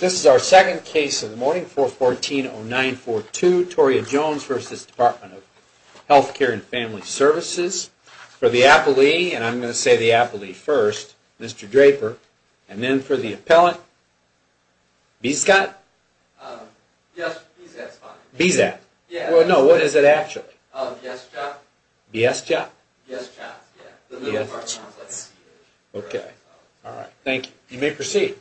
This is our second case of the morning, 414-0942, Toria Jones v. Department of Healthcare and Family Services. For the appellee, and I'm going to say the appellee first, Mr. Draper, and then for the appellant, B. Scott? Yes, B. Scott is fine. B. Scott? No, what is it actually? B.S. Jock. B.S. Jock? B.S. Jock, yeah. Okay, all right, thank you. You may proceed.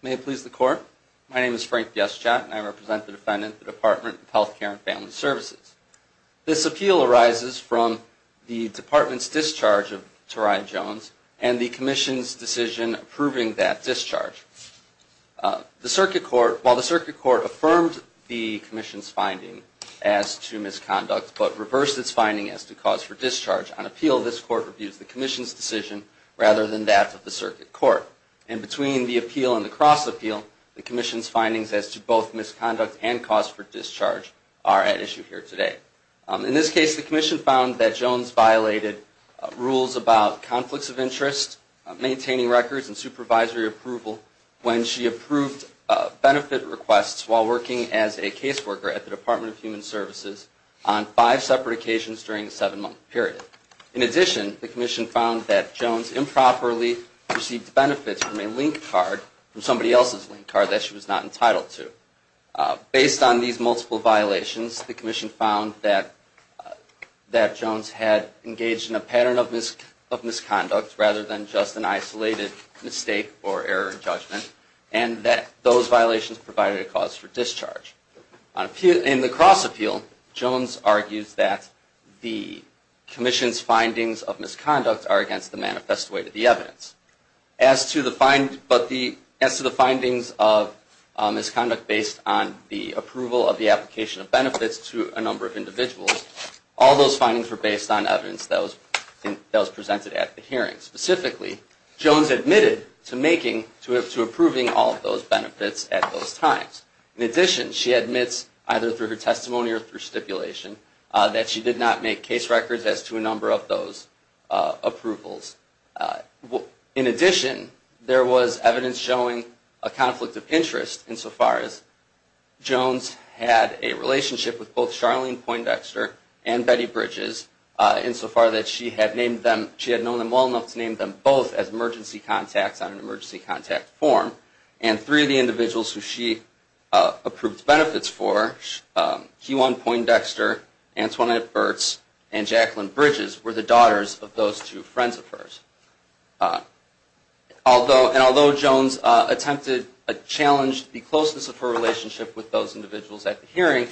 May it please the Court, my name is Frank B.S. Jock and I represent the defendant, the Department of Healthcare and Family Services. This appeal arises from the Department's discharge of Toria Jones and the Commission's decision approving that discharge. While the Circuit Court affirmed the Commission's finding as to misconduct but reversed its finding as to cause for discharge, on appeal this Court reviews the Commission's decision rather than that of the Circuit Court. And between the appeal and the cross-appeal, the Commission's findings as to both misconduct and cause for discharge are at issue here today. In this case, the Commission found that Jones violated rules about conflicts of interest, maintaining records, and supervisory approval when she approved benefit requests while working as a caseworker at the Department of Human Services on five separate occasions during a seven-month period. In addition, the Commission found that Jones improperly received benefits from a link card from somebody else's link card that she was not entitled to. Based on these multiple violations, the Commission found that Jones had engaged in a pattern of misconduct rather than just an isolated mistake or error in judgment, and that those violations provided a cause for discharge. In the cross-appeal, Jones argues that the Commission's findings of misconduct are against the manifest way to the evidence. As to the findings of misconduct based on the approval of the application of benefits to a number of individuals, all those findings were based on evidence that was presented at the hearing. Specifically, Jones admitted to approving all of those benefits at those times. In addition, she admits either through her testimony or through stipulation that she did not make case records as to a number of those approvals. In addition, there was evidence showing a conflict of interest insofar as Jones had a relationship with both Charlene Poindexter and Betty Bridges, insofar that she had known them well enough to name them both as emergency contacts on an emergency contact form, and three of the individuals who she approved benefits for, Keewon Poindexter, Antoinette Burtz, and Jacqueline Bridges, were the daughters of those two friends of hers. Although Jones attempted to challenge the closeness of her relationship with those individuals at the hearing,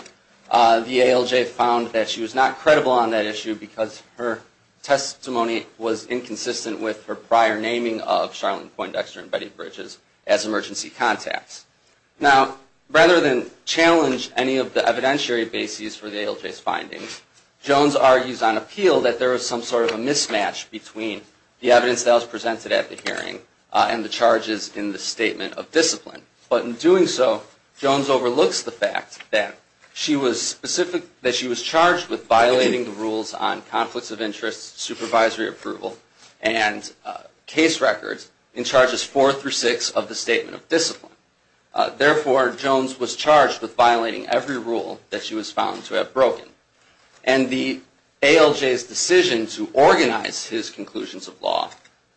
the ALJ found that she was not credible on that issue because her testimony was inconsistent with her prior naming of Charlene Poindexter and Betty Bridges as emergency contacts. Now, rather than challenge any of the evidentiary bases for the ALJ's findings, Jones argues on appeal that there was some sort of a mismatch between the hearing and the charges in the Statement of Discipline. But in doing so, Jones overlooks the fact that she was charged with violating the rules on conflicts of interest, supervisory approval, and case records in charges four through six of the Statement of Discipline. Therefore, Jones was charged with violating every rule that she was found to have broken. And the ALJ's decision to organize his conclusions of law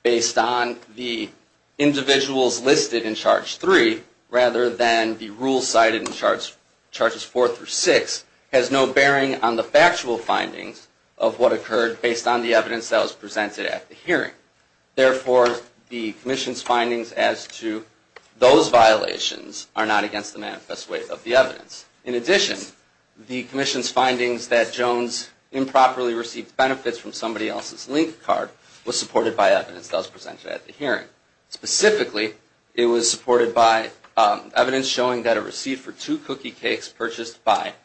based on the individuals listed in charge three rather than the rules cited in charges four through six has no bearing on the factual findings of what occurred based on the evidence that was presented at the hearing. Therefore, the Commission's findings as to those violations are not against the manifest way of the evidence. In addition, the Commission's findings that Jones improperly received benefits from somebody else's link card was supported by evidence that was presented at the hearing. Specifically, it was supported by evidence showing that a receipt for two cookie cakes purchased with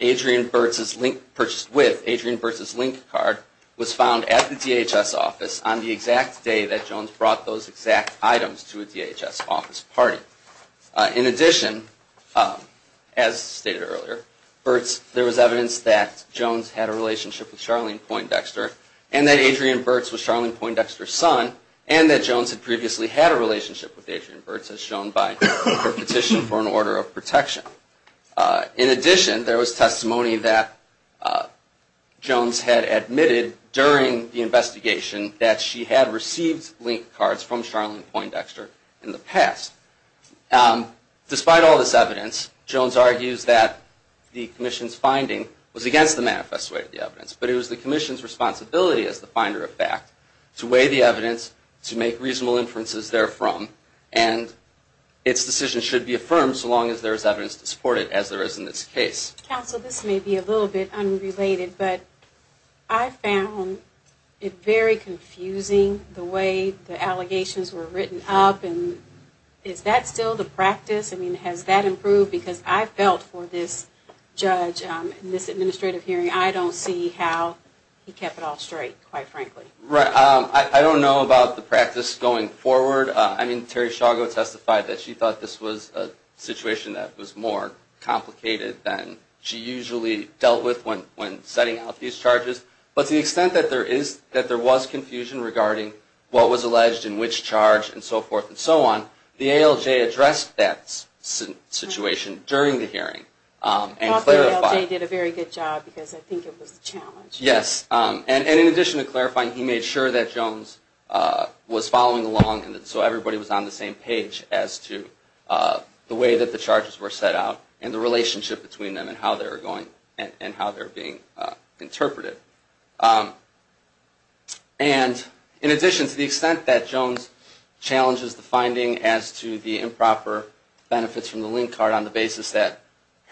Adrian Burtz's link card was found at the DHS office on the exact day that Jones brought those exact items to a DHS office party. In addition, as stated earlier, there was evidence that Jones had a relationship with Charlene Poindexter and that Adrian Burtz was Charlene Poindexter's son and that Jones had previously had a relationship with Adrian Burtz as shown by her petition for an order of protection. In addition, there was testimony that Jones had admitted during the investigation that she had received link cards from Charlene Poindexter in the past. Despite all this evidence, Jones argues that the Commission's finding was against the manifest way of the evidence, but it was the Commission's responsibility as the finder of fact to weigh the evidence, to make reasonable inferences therefrom, and its decision should be affirmed so long as there is evidence to support it as there is in this case. Counsel, this may be a little bit unrelated, but I found it very confusing the way the allegations were written up and is that still true? Is that still the practice? I mean, has that improved? Because I felt for this judge in this administrative hearing, I don't see how he kept it all straight, quite frankly. Right. I don't know about the practice going forward. I mean, Terri Schago testified that she thought this was a situation that was more complicated than she usually dealt with when setting out these charges. But to the extent that there was confusion regarding what was alleged and which charge and so forth and so on, the ALJ addressed it as a matter of fact. The ALJ addressed that situation during the hearing and clarified it. The ALJ did a very good job because I think it was a challenge. Yes. And in addition to clarifying, he made sure that Jones was following along so everybody was on the same page as to the way that the charges were set out and the relationship between them and how they were being interpreted. And in addition to the extent that Jones challenges the finding as to the improper benefits from the link card on the basis that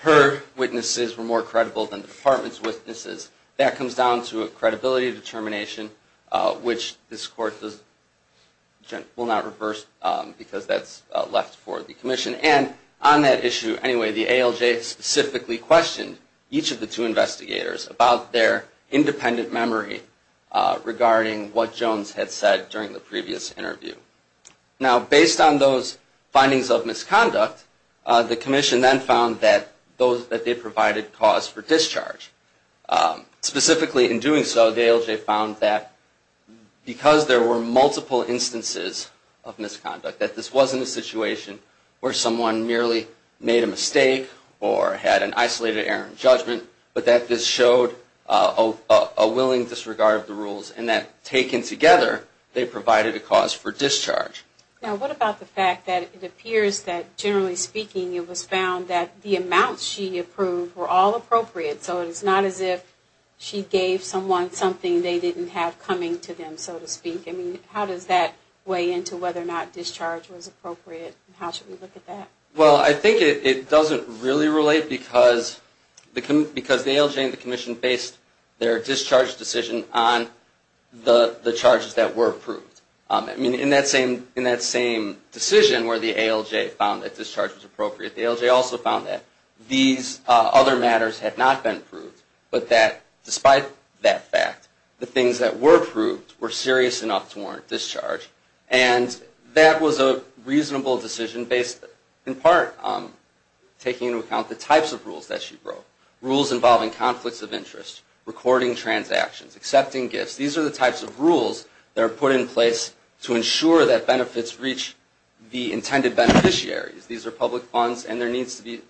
her witnesses were more credible than the department's witnesses, that comes down to a credibility determination, which this court will not reverse because that's left for the commission. And on that issue, anyway, the ALJ specifically questioned each of the two investigators about their independent memory regarding what Jones had said during the previous interview. Now, based on those findings of misconduct, the commission then found that those that they provided cause for discharge. Specifically in doing so, the ALJ found that because there were multiple instances of misconduct, that this wasn't a situation where someone was being charged. That someone merely made a mistake or had an isolated error in judgment, but that this showed a willing disregard of the rules and that taken together, they provided a cause for discharge. Now, what about the fact that it appears that, generally speaking, it was found that the amounts she approved were all appropriate, so it's not as if she gave someone something they didn't have coming to them, so to speak. I mean, how does that weigh into whether or not discharge was appropriate, and how should we look at that? Well, I think it doesn't really relate because the ALJ and the commission based their discharge decision on the charges that were approved. I mean, in that same decision where the ALJ found that discharge was appropriate, the ALJ also found that these other matters had not been approved, but that despite that fact, the things that were approved were serious enough to be approved. And that was a reasonable decision based, in part, taking into account the types of rules that she wrote. Rules involving conflicts of interest, recording transactions, accepting gifts, these are the types of rules that are put in place to ensure that benefits reach the intended beneficiaries. These are public funds and there needs to be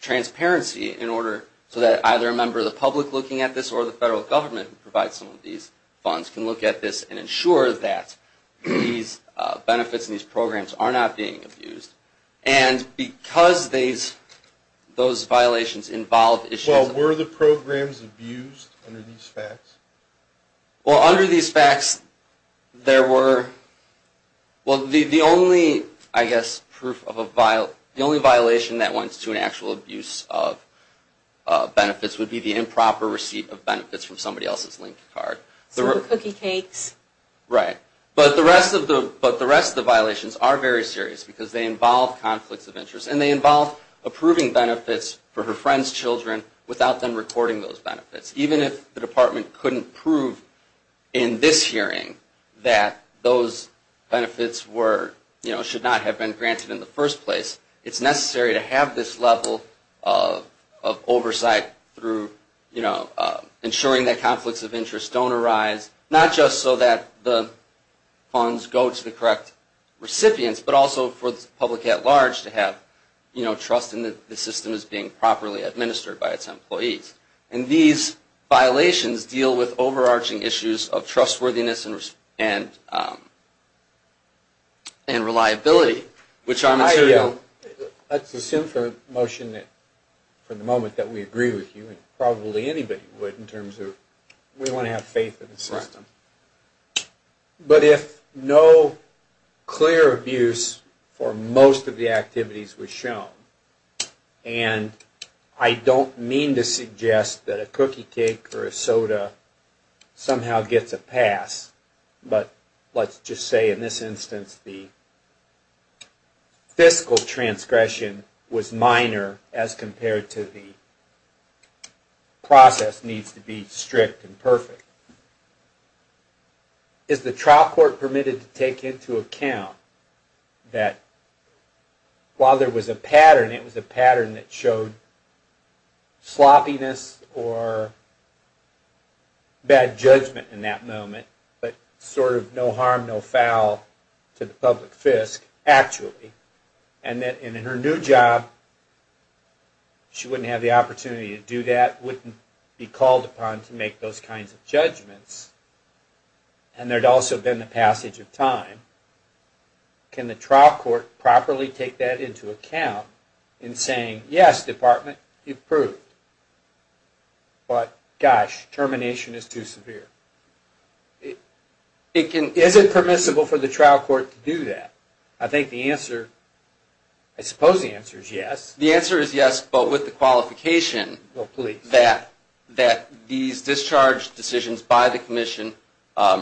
transparency in order so that either a member of the public looking at this or the federal government provides some of these funds can look at this and ensure that the benefits reach the intended beneficiaries. And to ensure that these benefits and these programs are not being abused. And because those violations involve issues... Well, were the programs abused under these facts? Well, under these facts, there were...well, the only, I guess, proof of a violation that went to an actual abuse of benefits would be the improper receipt of benefits from somebody else's link card. So the cookie cakes? Right. But the rest of the violations are very serious because they involve conflicts of interest and they involve approving benefits for her friends' children without them recording those benefits. Even if the department couldn't prove in this hearing that those benefits were, you know, should not have been granted in the first place, it's necessary to have this level of oversight through, you know, ensuring that conflicts of interest don't arise. Not just so that the funds go to the correct recipients, but also for the public at large to have, you know, trust in the system as being properly administered by its employees. And these violations deal with overarching issues of trustworthiness and reliability, which are material... Let's assume for the moment that we agree with you and probably anybody would in terms of we want to have faith in the system. Right. But if no clear abuse for most of the activities was shown, and I don't mean to suggest that a cookie cake or a soda somehow gets a pass, but let's just say in this instance the fiscal transgression of the act, that's a given, that that happens. And that the conviction was minor as compared to the process needs to be strict and perfect. Is the trial court permitted to take into account that while there was a pattern, it was a pattern that showed sloppiness or bad judgment in that moment, but sort of no harm, no foul to the public fisc, actually. And that in her new job she wouldn't have the opportunity to do that, wouldn't be called upon to make those kinds of judgments, and there'd also been the passage of time. Can the trial court properly take that into account in saying, yes, department, you've proved, but gosh, termination is too severe. Is it permissible for the trial court to do that? I think the answer, I suppose the answer is yes. The answer is yes, but with the qualification that these discharge decisions by the commission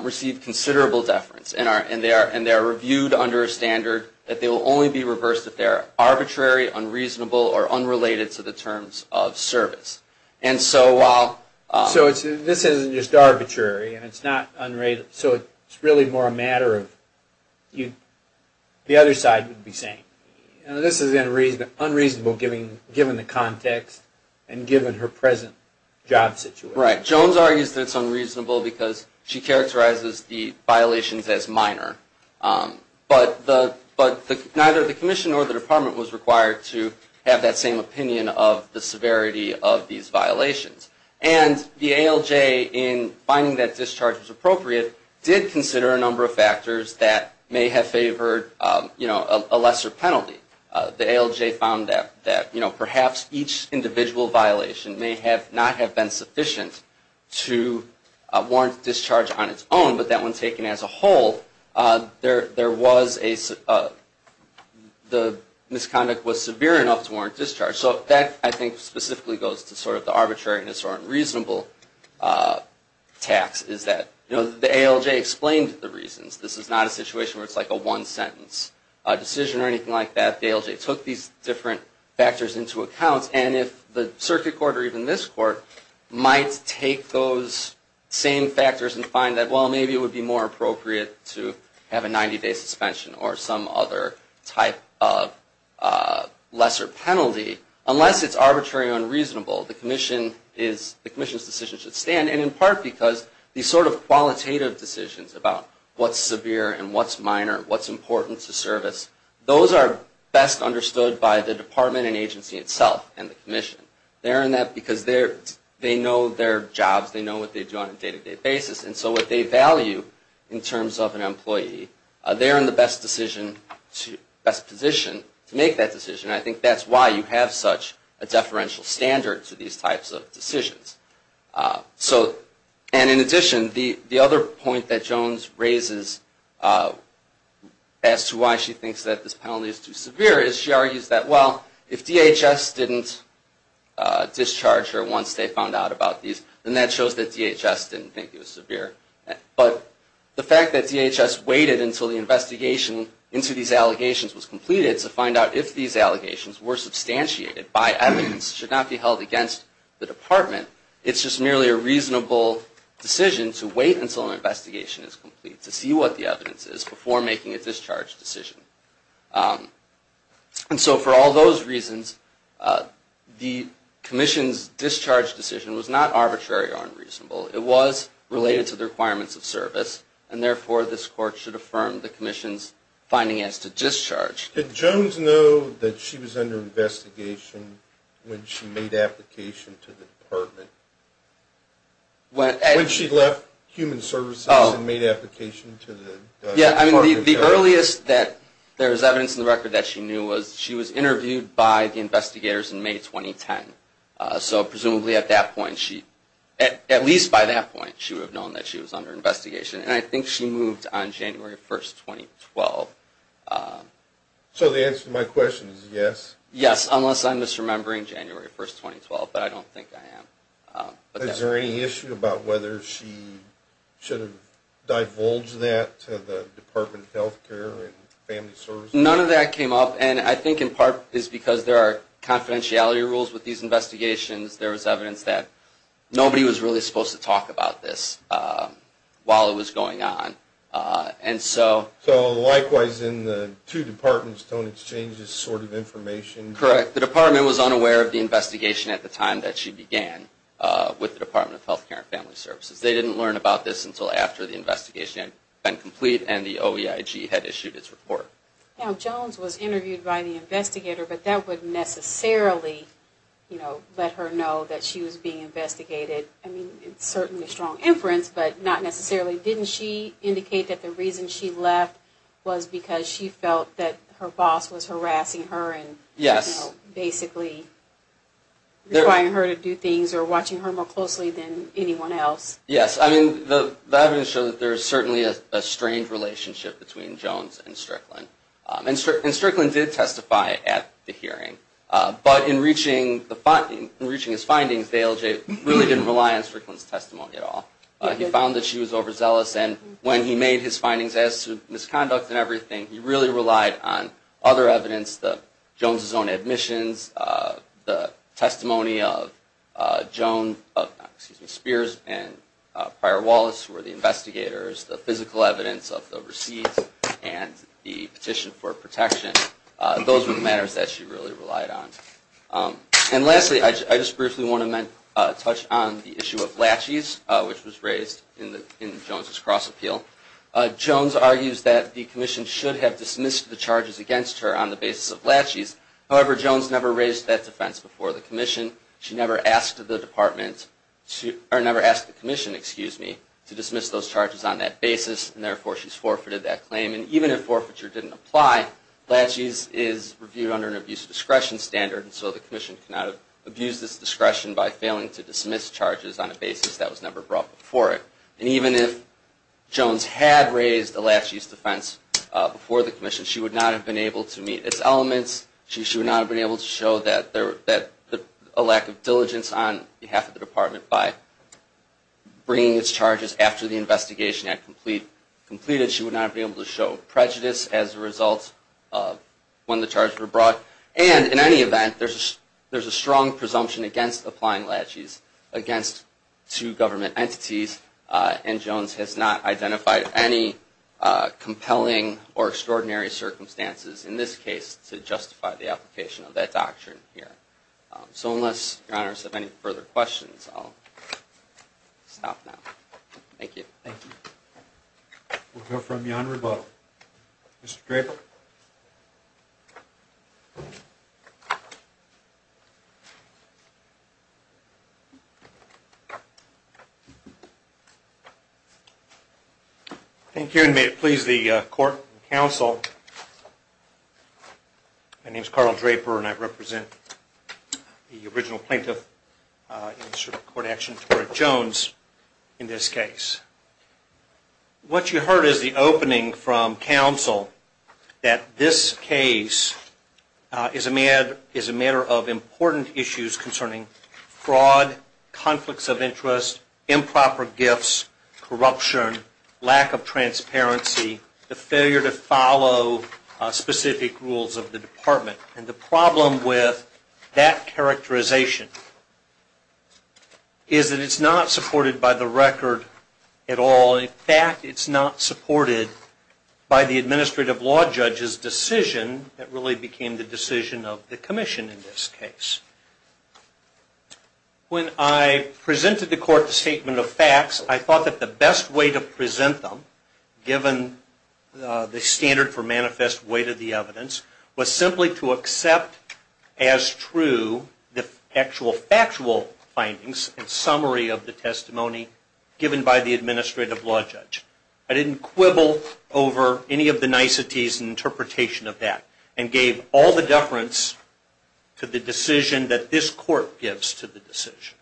receive considerable deference and they are reviewed under a standard that they will only be reversed if they are arbitrary, unreasonable, or unrelated to the terms of service. And so while... So this isn't just arbitrary and it's not unrelated, so it's really more a matter of, the other side would be saying, this is unreasonable given the context and given her present job situation. Right. Jones argues that it's unreasonable because she characterizes the violations as minor. But neither the commission nor the department was required to have that same opinion of the severity of these violations. And the ALJ, in finding that discharge was appropriate, did consider a number of factors that may have favored a lesser penalty. The ALJ found that perhaps each individual violation may not have been sufficient to warrant discharge on its own, but that when taken as a whole, the misconduct was severe enough to warrant discharge. So that, I think, specifically goes to sort of the arbitrariness or unreasonable tax is that, you know, the ALJ explained the reasons. This is not a situation where it's like a one sentence decision or anything like that. The ALJ took these different factors into account. And if the circuit court or even this court might take those same factors and find that, well, maybe it would be more appropriate to have a 90-day suspension or some other type of lesser penalty. Unless it's arbitrary or unreasonable, the commission's decision should stand. And in part because these sort of qualitative decisions about what's severe and what's minor, what's important to service, those are best understood by the department and agency itself and the commission. They're in that because they know their jobs. They know what they do on a day-to-day basis. And so what they value in terms of an employee, they're in the best position to make that decision. And I think that's why you have such a deferential standard to these types of decisions. And in addition, the other point that Jones raises as to why she thinks that this penalty is too severe is she argues that, well, if DHS didn't discharge her once they found out about these, then that shows that DHS didn't think it was severe. But the fact that DHS waited until the investigation into these allegations was completed to find out if these allegations were substantiated by evidence should not be held against the department. It's just merely a reasonable decision to wait until an investigation is complete to see what the evidence is before making a discharge decision. And so for all those reasons, the commission's discharge decision was not arbitrary or unreasonable. It was related to the requirements of service, and therefore this court should affirm the commission's finding as to discharge. Did Jones know that she was under investigation when she made application to the department? When she left human services and made application to the department? Yeah, I mean, the earliest that there was evidence in the record that she knew was she was interviewed by the investigators in May 2010. So presumably at that point she, at least by that point, she would have known that she was under investigation. And I think she moved on January 1, 2012. So the answer to my question is yes? Yes, unless I'm misremembering January 1, 2012, but I don't think I am. Is there any issue about whether she should have divulged that to the Department of Health Care and Family Services? None of that came up, and I think in part is because there are confidentiality rules with these investigations. There was evidence that nobody was really supposed to talk about this while it was going on. So likewise in the two departments don't exchange this sort of information? Correct. The department was unaware of the investigation at the time that she began with the Department of Health Care and Family Services. They didn't learn about this until after the investigation had been complete and the OEIG had issued its report. So I'm not sure if Jones was interviewed by the investigator, but that wouldn't necessarily let her know that she was being investigated. I mean it's certainly strong inference, but not necessarily. Didn't she indicate that the reason she left was because she felt that her boss was harassing her and basically requiring her to do things or watching her more closely than anyone else? Yes, I mean the evidence shows that there is certainly a strange relationship between Jones and Strickland. And Strickland did testify at the hearing, but in reaching his findings, the ALJ really didn't rely on Strickland's testimony at all. He found that she was overzealous, and when he made his findings as to misconduct and everything, he really relied on other evidence. Jones' own admissions, the testimony of Jones, excuse me, Spears and Prior Wallace, who were the investigators, the physical evidence of the receipts, and the petition for participation. Those were the matters that she really relied on. And lastly, I just briefly want to touch on the issue of laches, which was raised in Jones' cross-appeal. Jones argues that the Commission should have dismissed the charges against her on the basis of laches. However, Jones never raised that defense before the Commission. She never asked the Commission to dismiss those charges on that basis, and therefore she's forfeited that claim. And even if forfeiture didn't apply, laches is reviewed under an abuse of discretion standard. And so the Commission cannot abuse this discretion by failing to dismiss charges on a basis that was never brought before it. And even if Jones had raised a laches defense before the Commission, she would not have been able to meet its elements. She would not have been able to show a lack of diligence on behalf of the Department by bringing its charges after the investigation had completed. She would not have been able to show prejudice as a result of when the charges were brought. And in any event, there's a strong presumption against applying laches against two government entities. And Jones has not identified any compelling or extraordinary circumstances in this case to justify the application of that doctrine here. So unless your honors have any further questions, I'll stop now. Thank you. We'll go from the Honorable Mr. Draper. Thank you, and may it please the Court and Counsel. My name is Carl Draper, and I represent the original plaintiff in this court action toward Jones in this case. What you heard is the opening from counsel that this case is a matter of important issues concerning fraud, conflicts of interest, improper gifts, corruption, lack of transparency, the failure to follow specific rules of the Department. And the problem with that characterization is that it's not supported by the record at all. In fact, it's not supported by the Administrative Law Judge's decision that really became the decision of the Commission in this case. When I presented the Court the statement of facts, I thought that the best way to present them, given the standard for manifest weight of the evidence, was simply to accept as true the actual factual findings and summary of the testimony given by the Administrative Law Judge. I didn't quibble over any of the niceties and interpretation of that and gave all the deference to the decision that this Court gives to the decision.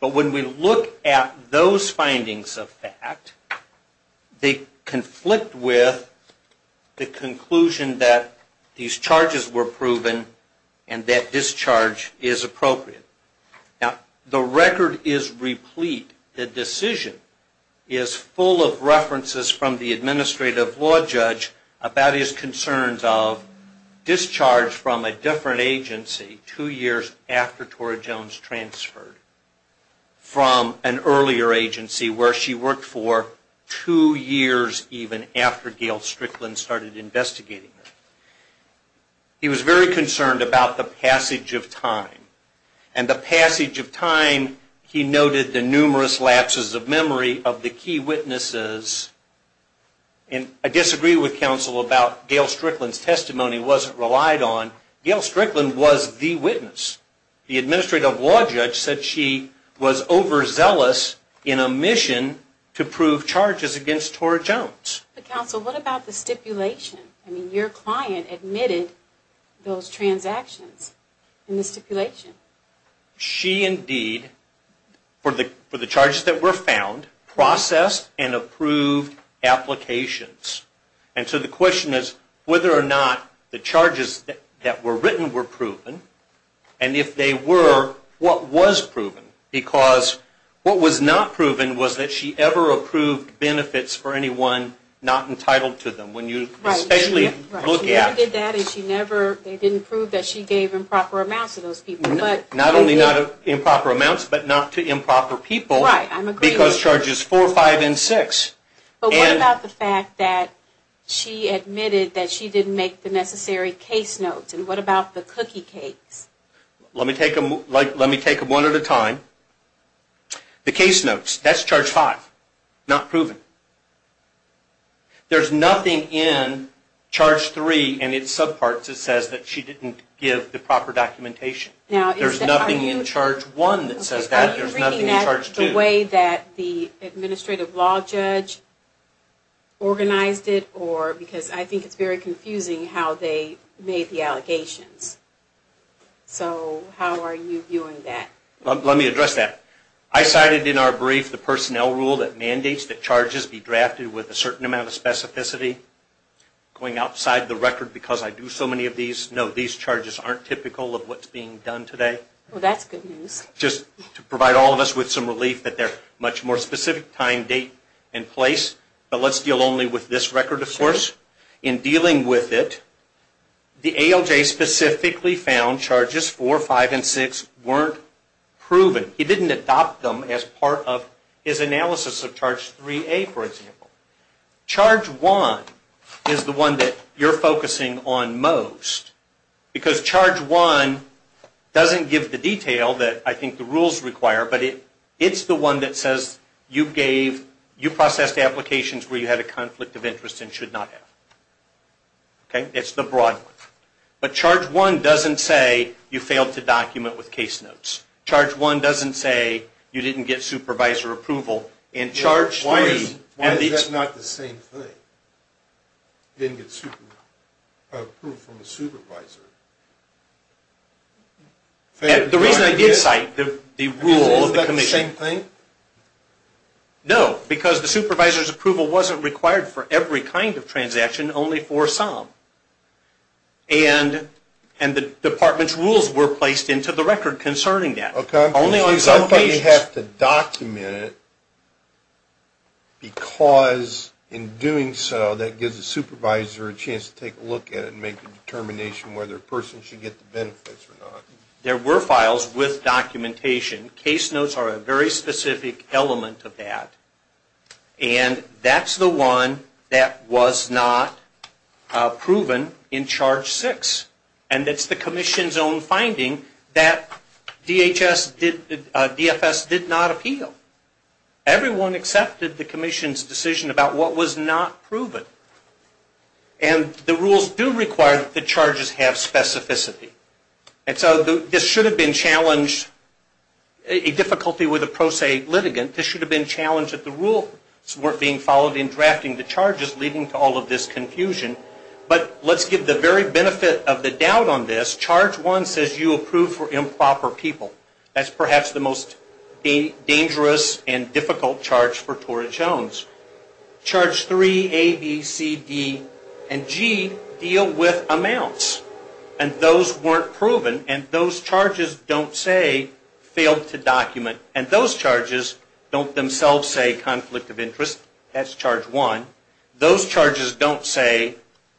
But when we look at those findings of fact, they conflict with the conclusion that these charges were proven and that discharge is appropriate. Now, the record is replete. The decision is full of references from the Administrative Law Judge about his concerns of discharge from a different agency two years after Torah Jones transferred from an earlier agency where she worked for two years even after Gail Strickland started investigating her. He was very concerned about the passage of time and the passage of time he noted the numerous lapses of memory of the key witnesses. I disagree with counsel about Gail Strickland's testimony wasn't relied on. Gail Strickland was the witness. The Administrative Law Judge said she was overzealous in a mission to prove charges against Torah Jones. But counsel, what about the stipulation? I mean, your client admitted those transactions in the stipulation. She indeed, for the charges that were found, processed and approved applications. And so the question is whether or not the charges that were written were proven and if they were, what was proven? Because what was not proven was that she ever approved benefits for anyone not entitled to them. When you especially look at... She never did that and she never, they didn't prove that she gave improper amounts to those people. Not only not improper amounts but not to improper people because charges 4, 5 and 6. But what about the fact that she admitted that she didn't make the necessary case notes and what about the cookie case? Let me take them one at a time. The case notes, that's charge 5, not proven. There's nothing in charge 3 and its subparts that says that she didn't give the proper documentation. There's nothing in charge 1 that says that. Are you reading that the way that the Administrative Law Judge organized it? Or because I think it's very confusing how they made the allegations. So how are you viewing that? Let me address that. I cited in our brief the personnel rule that mandates that charges be drafted with a certain amount of specificity. Going outside the record because I do so many of these. No, these charges aren't typical of what's being done today. Just to provide all of us with some relief that there are much more specific time, date and place. But let's deal only with this record of course. In dealing with it, the ALJ specifically found charges 4, 5 and 6 weren't proven. He didn't adopt them as part of his analysis of charge 3A for example. Charge 1 is the one that you're focusing on most. Because charge 1 doesn't give the detail that I think the rules require. But it's the one that says you processed applications where you had a conflict of interest and should not have. It's the broad one. But charge 1 doesn't say you failed to document with case notes. Charge 1 doesn't say you didn't get supervisor approval. Why is that not the same thing? You didn't get approval from the supervisor. Is that the same thing? No, because the supervisor's approval wasn't required for every kind of transaction, only for some. And the department's rules were placed into the record concerning that. I thought you have to document it because in doing so, that gives the supervisor a chance to take a look at it and make a determination whether a person should get the benefits or not. There were files with documentation. Case notes are a very specific element of that. And that's the one that was not proven in charge 6. And it's the commission's own finding that DHS, DFS did not appeal. Everyone accepted the commission's decision about what was not proven. And the rules do require that the charges have specificity. And so this should have been challenged. A difficulty with a pro se litigant, this should have been challenged if the rules weren't being followed in drafting the charges leading to all of this confusion. But let's give the very benefit of the doubt on this. Charge 1 says you approve for improper people. That's perhaps the most dangerous and difficult charge for Tora Jones. Charge 3, A, B, C, D, and G deal with amounts. And those weren't proven. And those charges don't say failed to document. And those charges don't themselves say conflict of interest. That's charge 1. Those charges don't say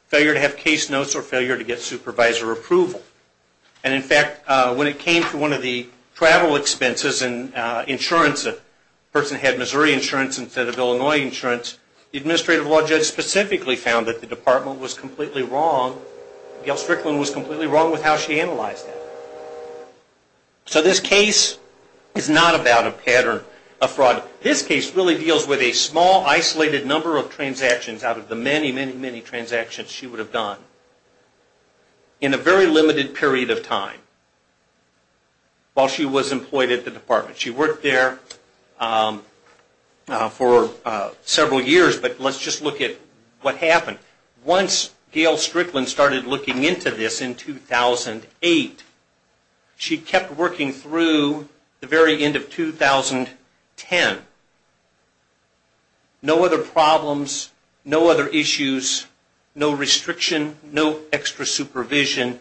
failure to have case notes or failure to get supervisor approval. And in fact, when it came to one of the travel expenses and insurance, a person had Missouri insurance instead of Illinois insurance, the administrative law judge specifically found that the department was completely wrong. Gail Strickland was completely wrong with how she analyzed that. So this case is not about a pattern of fraud. This case really deals with a small, isolated number of transactions out of the many, many, many transactions she would have done in a very limited period of time while she was employed at the department. She worked there for several years, but let's just look at what happened. Once Gail Strickland started looking into this in 2008, she kept working through the very end of 2010. No other problems. No other issues. No restriction. No extra supervision.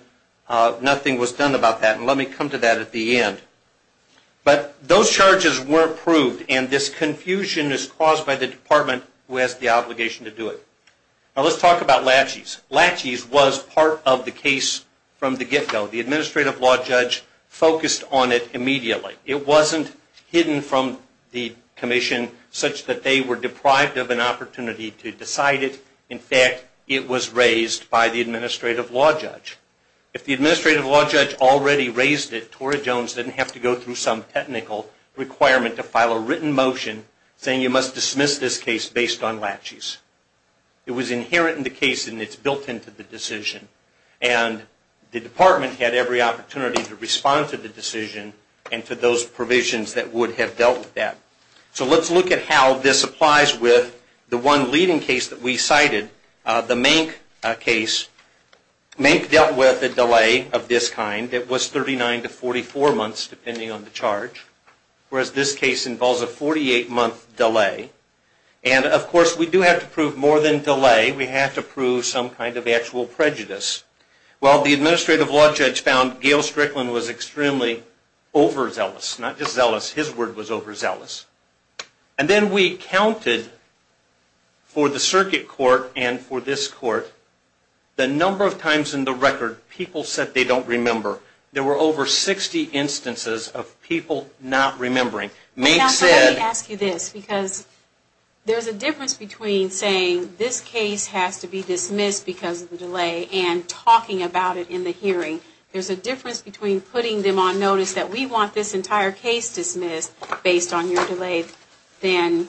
Nothing was done about that. And let me come to that at the end. But those charges weren't proved and this confusion is caused by the department who has the obligation to do it. Now let's talk about Lachey's. Lachey's was part of the case from the get-go. The administrative law judge focused on it immediately. It wasn't hidden from the commission such that they were deprived of an opportunity to decide it. In fact, it was raised by the administrative law judge. If the administrative law judge already raised it, Tori Jones didn't have to go through some technical requirement to file a written motion saying you must dismiss this case based on Lachey's. It was inherent in the case and it's built into the decision. And the department had every opportunity to respond to the decision and to those provisions that would have dealt with that. So let's look at how this applies with the one leading case that we cited. The Mank case. Mank dealt with a delay of this kind. It was 39 to 44 months depending on the charge. Whereas this case involves a 48 month delay. And of course we do have to prove more than delay. We have to prove some kind of actual prejudice. Well, the administrative law judge found Gail Strickland was extremely overzealous. Not just zealous, his word was overzealous. And then we counted for the circuit court and for this court the number of times in the record people said they don't remember. There were over 60 instances of people not remembering. Let me ask you this because there's a difference between saying this case has to be dismissed because of the delay and talking about it in the hearing. There's a difference between putting them on notice that we want this entire case dismissed based on your delay than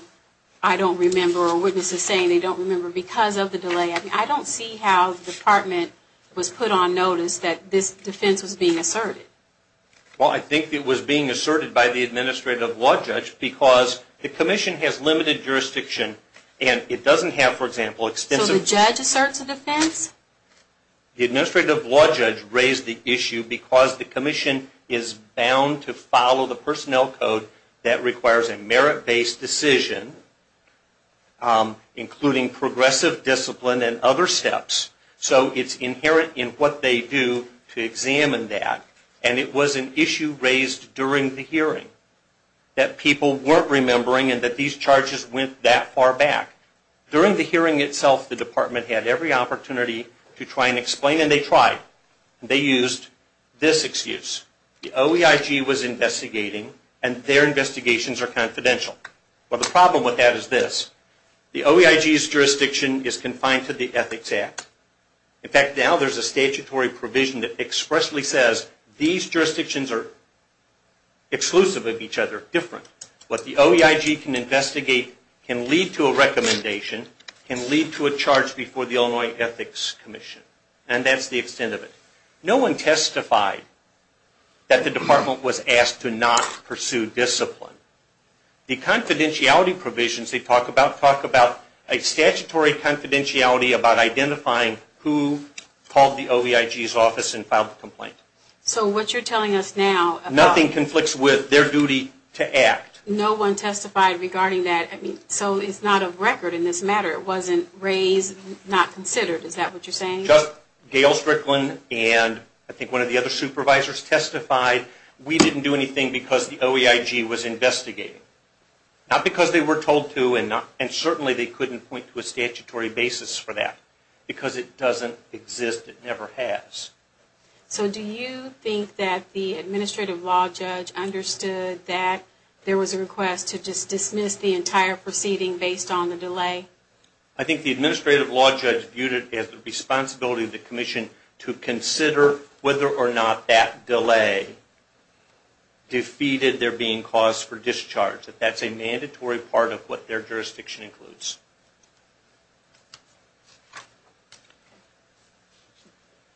I don't remember witnesses saying they don't remember because of the delay. I don't see how the department was put on notice that this defense was being asserted. Well, I think it was being asserted by the administrative law judge because the commission has limited jurisdiction and it doesn't have, for example, extensive... So the judge asserts a defense? The administrative law judge raised the issue because the commission is bound to follow the personnel code that requires a merit-based decision including progressive discipline and other steps. So it's inherent in what they do to examine that and it was an issue raised during the hearing that people weren't remembering and that these charges went that far back. During the hearing itself the department had every opportunity to try and explain and they tried and they used this excuse. The OEIG was investigating and their investigations are confidential. Well, the problem with that is this. The OEIG's jurisdiction is confined to the Ethics Act. In fact, now there's a statutory provision that expressly says these jurisdictions are exclusive of each other, different. What the OEIG can investigate can lead to a recommendation, can lead to a charge before the Illinois Ethics Commission and that's the extent of it. No one testified that the department was asked to not pursue discipline. The confidentiality provisions they talk about talk about a statutory confidentiality about identifying who called the OEIG's office and filed the complaint. So what you're telling us now... Nothing conflicts with their duty to act. No one testified regarding that, so it's not a record in this matter. It wasn't raised, not considered, is that what you're saying? Just Gail Strickland and I think one of the other supervisors testified we didn't do anything because the OEIG was investigating. Not because they were told to and certainly they couldn't point to a statutory basis for that because it doesn't exist, it never has. So do you think that the administrative law judge understood that there was a request to just dismiss the entire proceeding based on the delay? I think the administrative law judge viewed it as the responsibility of the commission to consider whether or not that delay defeated there being cause for discharge, that that's a mandatory part of what their jurisdiction includes.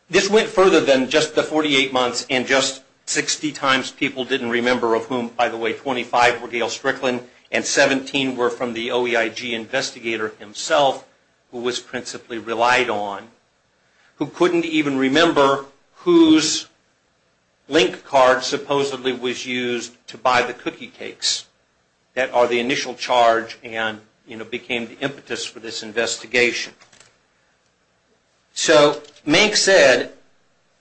This went further than just the 48 months and just 60 times people didn't remember of whom, by the way, 25 were Gail Strickland and 17 were from the OEIG investigator himself who was principally relied on, who couldn't even remember whose link card supposedly was used to buy the cookie cakes that are the initial charge and became the impetus for this investigation. So Mank said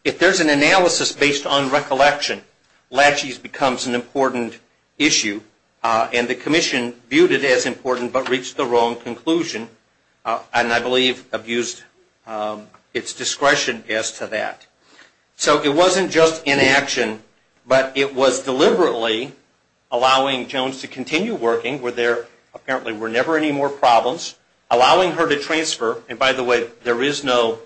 if there's an analysis based on recollection, laches becomes an important issue and the commission viewed it as important but reached the wrong conclusion and I believe abused its discretion as to that. So it wasn't just inaction, but it was deliberately allowing Jones to continue working where there apparently were never any more problems, allowing her to transfer, and by the way, there is no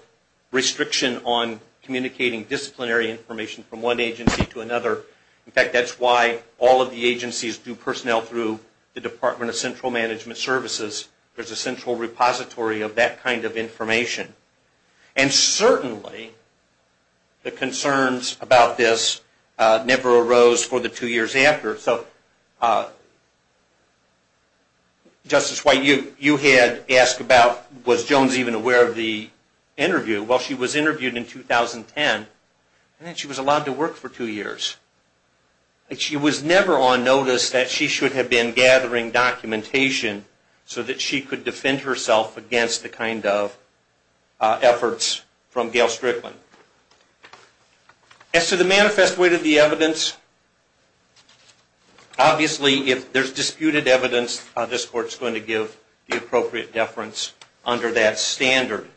restriction on communicating disciplinary information from one agency to another. In fact, that's why all of the agencies do personnel through the Department of Central Management Services. There's a central repository of that kind of information. And certainly the concerns about this never arose for the two years after. Justice White, you had asked about was Jones even aware of the interview. Well, she was interviewed in 2010 and she was allowed to work for two years. She was never on notice that she should have been gathering documentation so that she could defend herself against the kind of efforts from Gail Strickland. As to the manifest weight of the evidence, obviously if there's disputed evidence, this court's going to give the appropriate deference under that standard.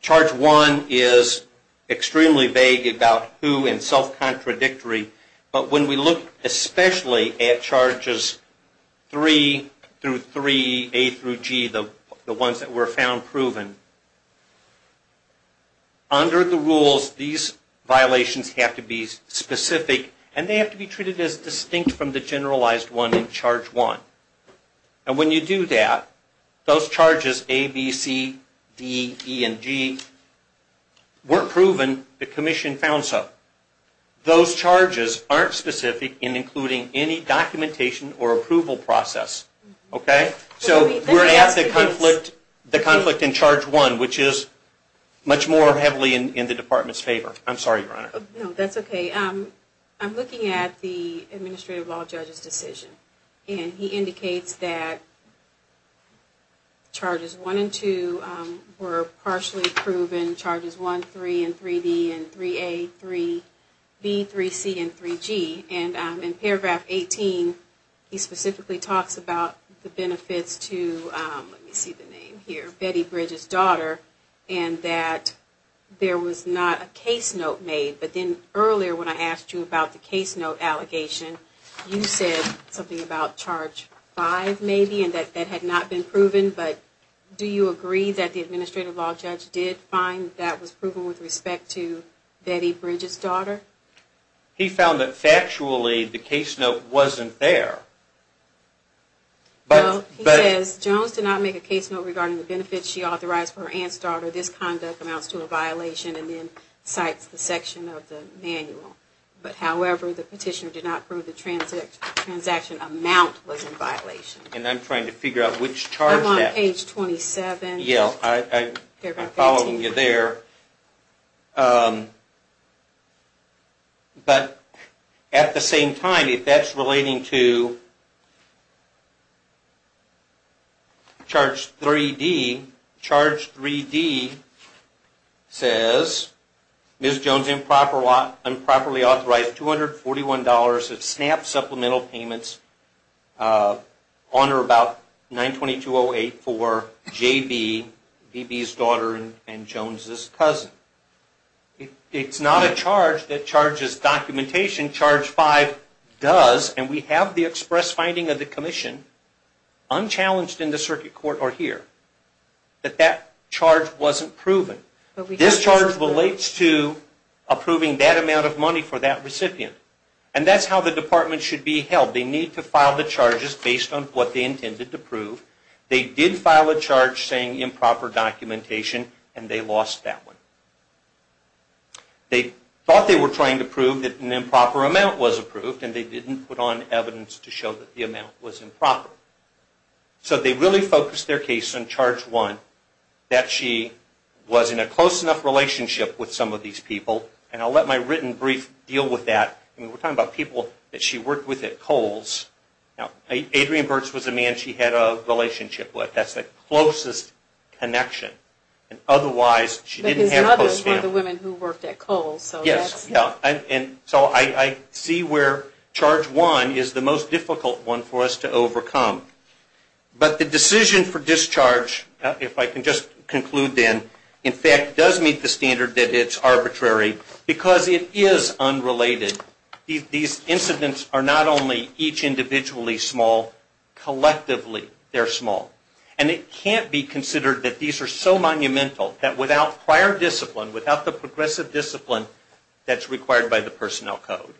Charge 1 is extremely vague about who and self-contradictory, but when we look especially at charges 3 through 3, A through G, the ones that were found proven, under the rules these violations have to be specific and they have to be treated as distinct from the generalized one in Charge 1. And when you do that, those charges A, B, C, D, E, and G weren't proven, the Commission found so. Those charges aren't specific in including any documentation or approval process. So we're at the conflict in Charge 1, which is much more heavily in the Department's favor. I'm sorry, Your Honor. No, that's okay. I'm looking at the Administrative Law Judge's decision and he indicates that Charges 1 and 2 were partially proven. Charges 1, 3, and 3D and 3A, 3B, 3C, and 3G. And in paragraph 18, he specifically talks about the benefits to, let me see the name here, Betty Bridges' daughter and that there was not a case note made. But then earlier when I asked you about the case note allegation, you said something about Charge 5 maybe and that that had not been proven, but do you agree that the Administrative Law Judge did find that was proven with respect to Betty Bridges' daughter? He found that factually the case note wasn't there. No, he says Jones did not make a case note regarding the benefits she authorized for her aunt's daughter. This conduct amounts to a violation and then cites the section of the manual. But however, the petitioner did not prove the transaction amount was in violation. And I'm trying to figure out which charge that is. I'm on page 27. I'm following you there. But at the same time, if that's relating to Charge 3D, Charge 3D says Ms. Jones improperly authorized $241 of SNAP supplemental payments on or about $241. It's not a charge that charges documentation. Charge 5 does, and we have the express finding of the Commission unchallenged in the Circuit Court or here, that that charge wasn't proven. This charge relates to approving that amount of money for that recipient. And that's how the Department should be held. They need to file the charges based on what they intended to prove. They did file a charge saying improper documentation, and they lost that one. They thought they were trying to prove that an improper amount was approved, and they didn't put on evidence to show that the amount was improper. So they really focused their case on Charge 1, that she was in a close enough relationship with some of these people. And I'll let my written brief deal with that. We're talking about people that she worked with at Kohl's. Adrian Burts was a man she had a relationship with. That's the closest connection. Otherwise, she didn't have a close family. So I see where Charge 1 is the most difficult one for us to overcome. But the decision for discharge, if I can just conclude then, in fact does meet the standard that it's arbitrary because it is unrelated. These incidents are not only each individually small, collectively they're small. And it can't be considered that these are so monumental that without prior discipline, without the progressive discipline that's required by the Personnel Code,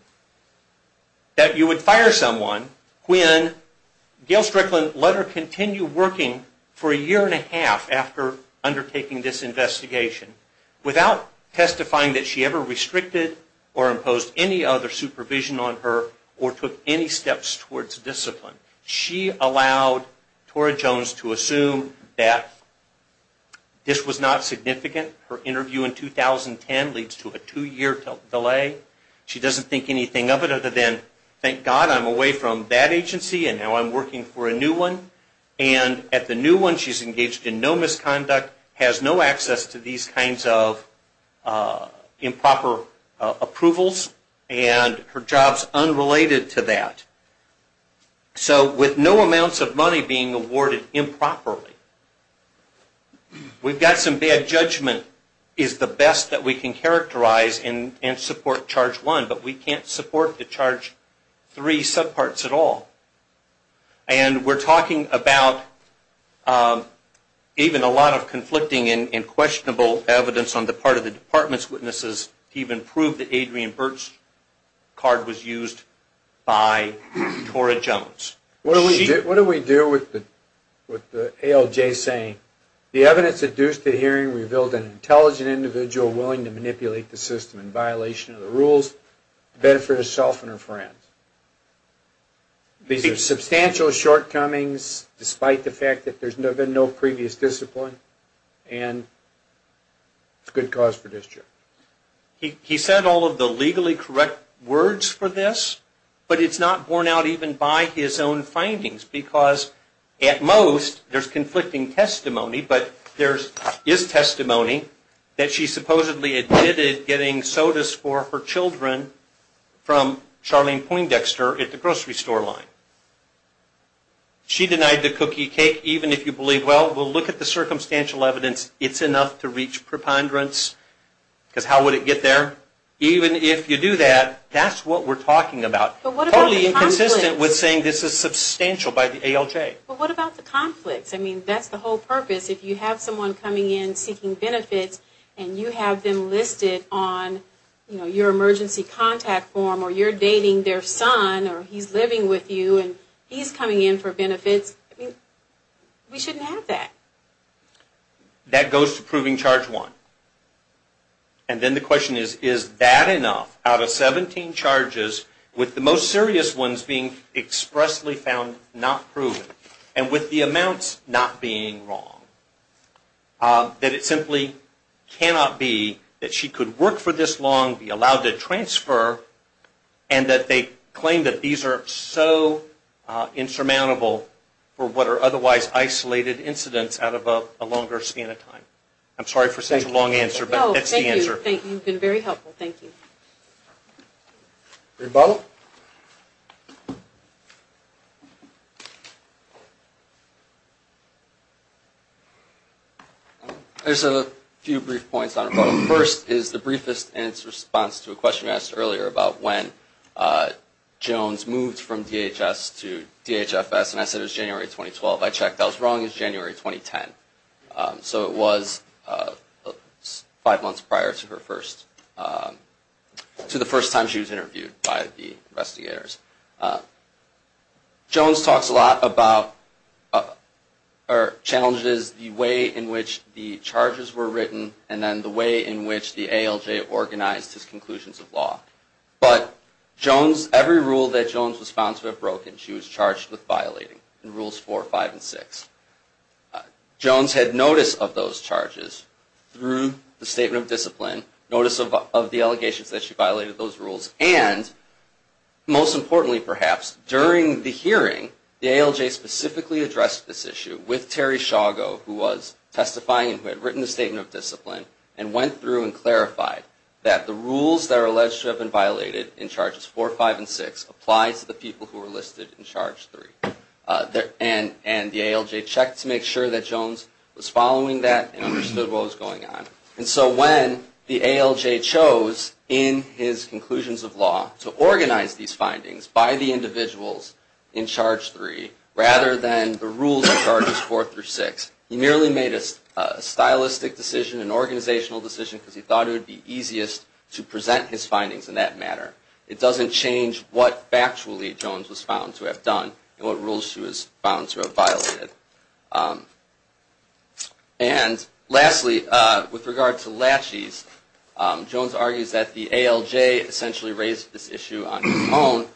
that you would fire someone when Gail Strickland let her continue working for a year and a half after undertaking this investigation without testifying that she ever restricted or imposed any other supervision on her or took any steps towards discipline. She allowed Tora Jones to assume that this was not significant. Her interview in 2010 leads to a two-year delay. She doesn't think anything of it other than, thank God I'm away from that agency and now I'm working for a new one. And at the new one she's engaged in no misconduct, has no access to these kinds of improper approvals and her job's unrelated to that. So with no amounts of money being awarded improperly, we've got some bad judgment is the best that we can characterize and support charge one, but we can't support the charge three subparts at all. And we're talking about even a lot of conflicting and questionable evidence on the part of the Department's witnesses to even prove that Adrian Burt's card was used by with the ALJ saying, the evidence induced at hearing revealed an intelligent individual willing to manipulate the system in violation of the rules to benefit herself and her friends. These are substantial shortcomings despite the fact that there's been no previous discipline and it's a good cause for distrust. He said all of the legally correct words for this, but it's not borne out even by his own findings because at most there's conflicting testimony, but there is testimony that she supposedly admitted getting sodas for her children from Charlene Poindexter at the grocery store line. She denied the cookie cake even if you believe, well we'll look at the circumstantial evidence, it's enough to reach preponderance because how would it get there? Even if you do that, that's what we're talking about. Totally inconsistent with saying this is substantial by the ALJ. But what about the conflicts? I mean that's the whole purpose. If you have someone coming in seeking benefits and you have them listed on your emergency contact form or you're dating their son or he's living with you and he's coming in for benefits, we shouldn't have that. That goes to proving charge one. And then the question is, is that enough out of 17 charges with the most serious ones being expressly found not proven and with the amounts not being wrong? That it simply cannot be that she could work for this long, be allowed to transfer and that they claim that these are so insurmountable for what are otherwise isolated incidents out of a longer span of time. I'm sorry for such a long answer, but that's the answer. Thank you. You've been very helpful. Thank you. Rebuttal. There's a few brief points on rebuttal. The first is the briefest in its response to a question I asked earlier about when Jones moved from DHS to DHFS and I said it was January 2012. I checked. I was wrong. It was January 2010. So it was five months prior to her first, to the first time she was interviewed by the investigators. Jones talks a lot about or challenges the way in which the charges were written and then the way in which the ALJ organized his conclusions of law. But Jones, every rule that Jones was found to have broken, she was charged with violating in Rules 4, 5, and 6. Jones had notice of those charges through the Statement of Discipline, notice of the allegations that she violated those rules and, most importantly perhaps, during the hearing, the ALJ specifically addressed this issue with Terry Shago, who was testifying and who had written the Statement of Discipline and went through and clarified that the rules that are alleged to have been violated in Charges 4, 5, and 6 apply to the people who were listed in Charge 3. And the ALJ checked to make sure that Jones was following that and understood what was going on. And so when the ALJ chose in his conclusions of law to organize these findings by the individuals in Charge 3 rather than the rules in Charges 4 through 6, he merely made a stylistic decision, an organizational decision, because he thought it would be easiest to present his findings in that matter. It doesn't change what factually Jones was found to have done and what rules she was found to have violated. And lastly, with regard to laches, Jones argues that the ALJ essentially raised this issue on his own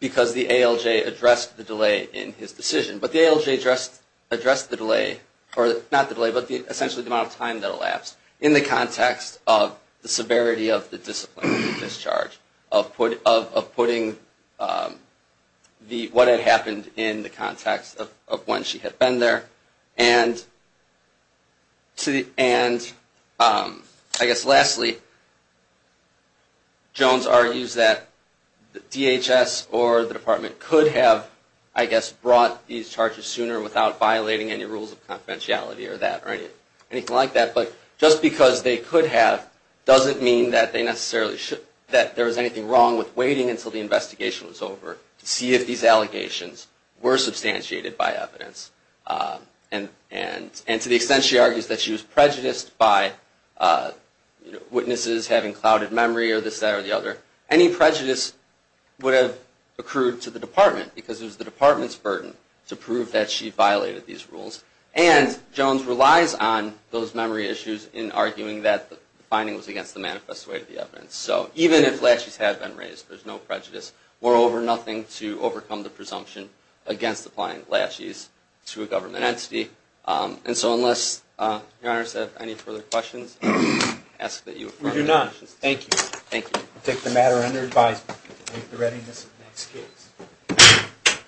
because the ALJ addressed the delay in his decision. But the ALJ addressed the delay, not the delay, but essentially the amount of time that elapsed in the context of the severity of the disciplinary discharge of putting what had happened in the context of when she had been there. And I guess lastly, Jones argues that DHS or the Department could have, I guess, brought these charges sooner without violating any rules of confidentiality or that or anything like that. But just because they could have doesn't mean that there was anything wrong with waiting until the investigation was over to see if these allegations were substantiated by evidence. And to the extent she argues that she was prejudiced by witnesses having clouded memory or this, that, or the other, any prejudice would have accrued to the Department because it was the Department's burden to prove that she violated these rules. And Jones relies on those memory issues in arguing that the finding was against the manifest way of the evidence. So even if laches had been raised, there's no prejudice. Moreover, nothing to overcome the presumption against applying laches to a government entity. And so unless, Your Honor, I have any further questions, I ask that you. We do not. Thank you. I take the matter under advisement. I take the readiness of the next case.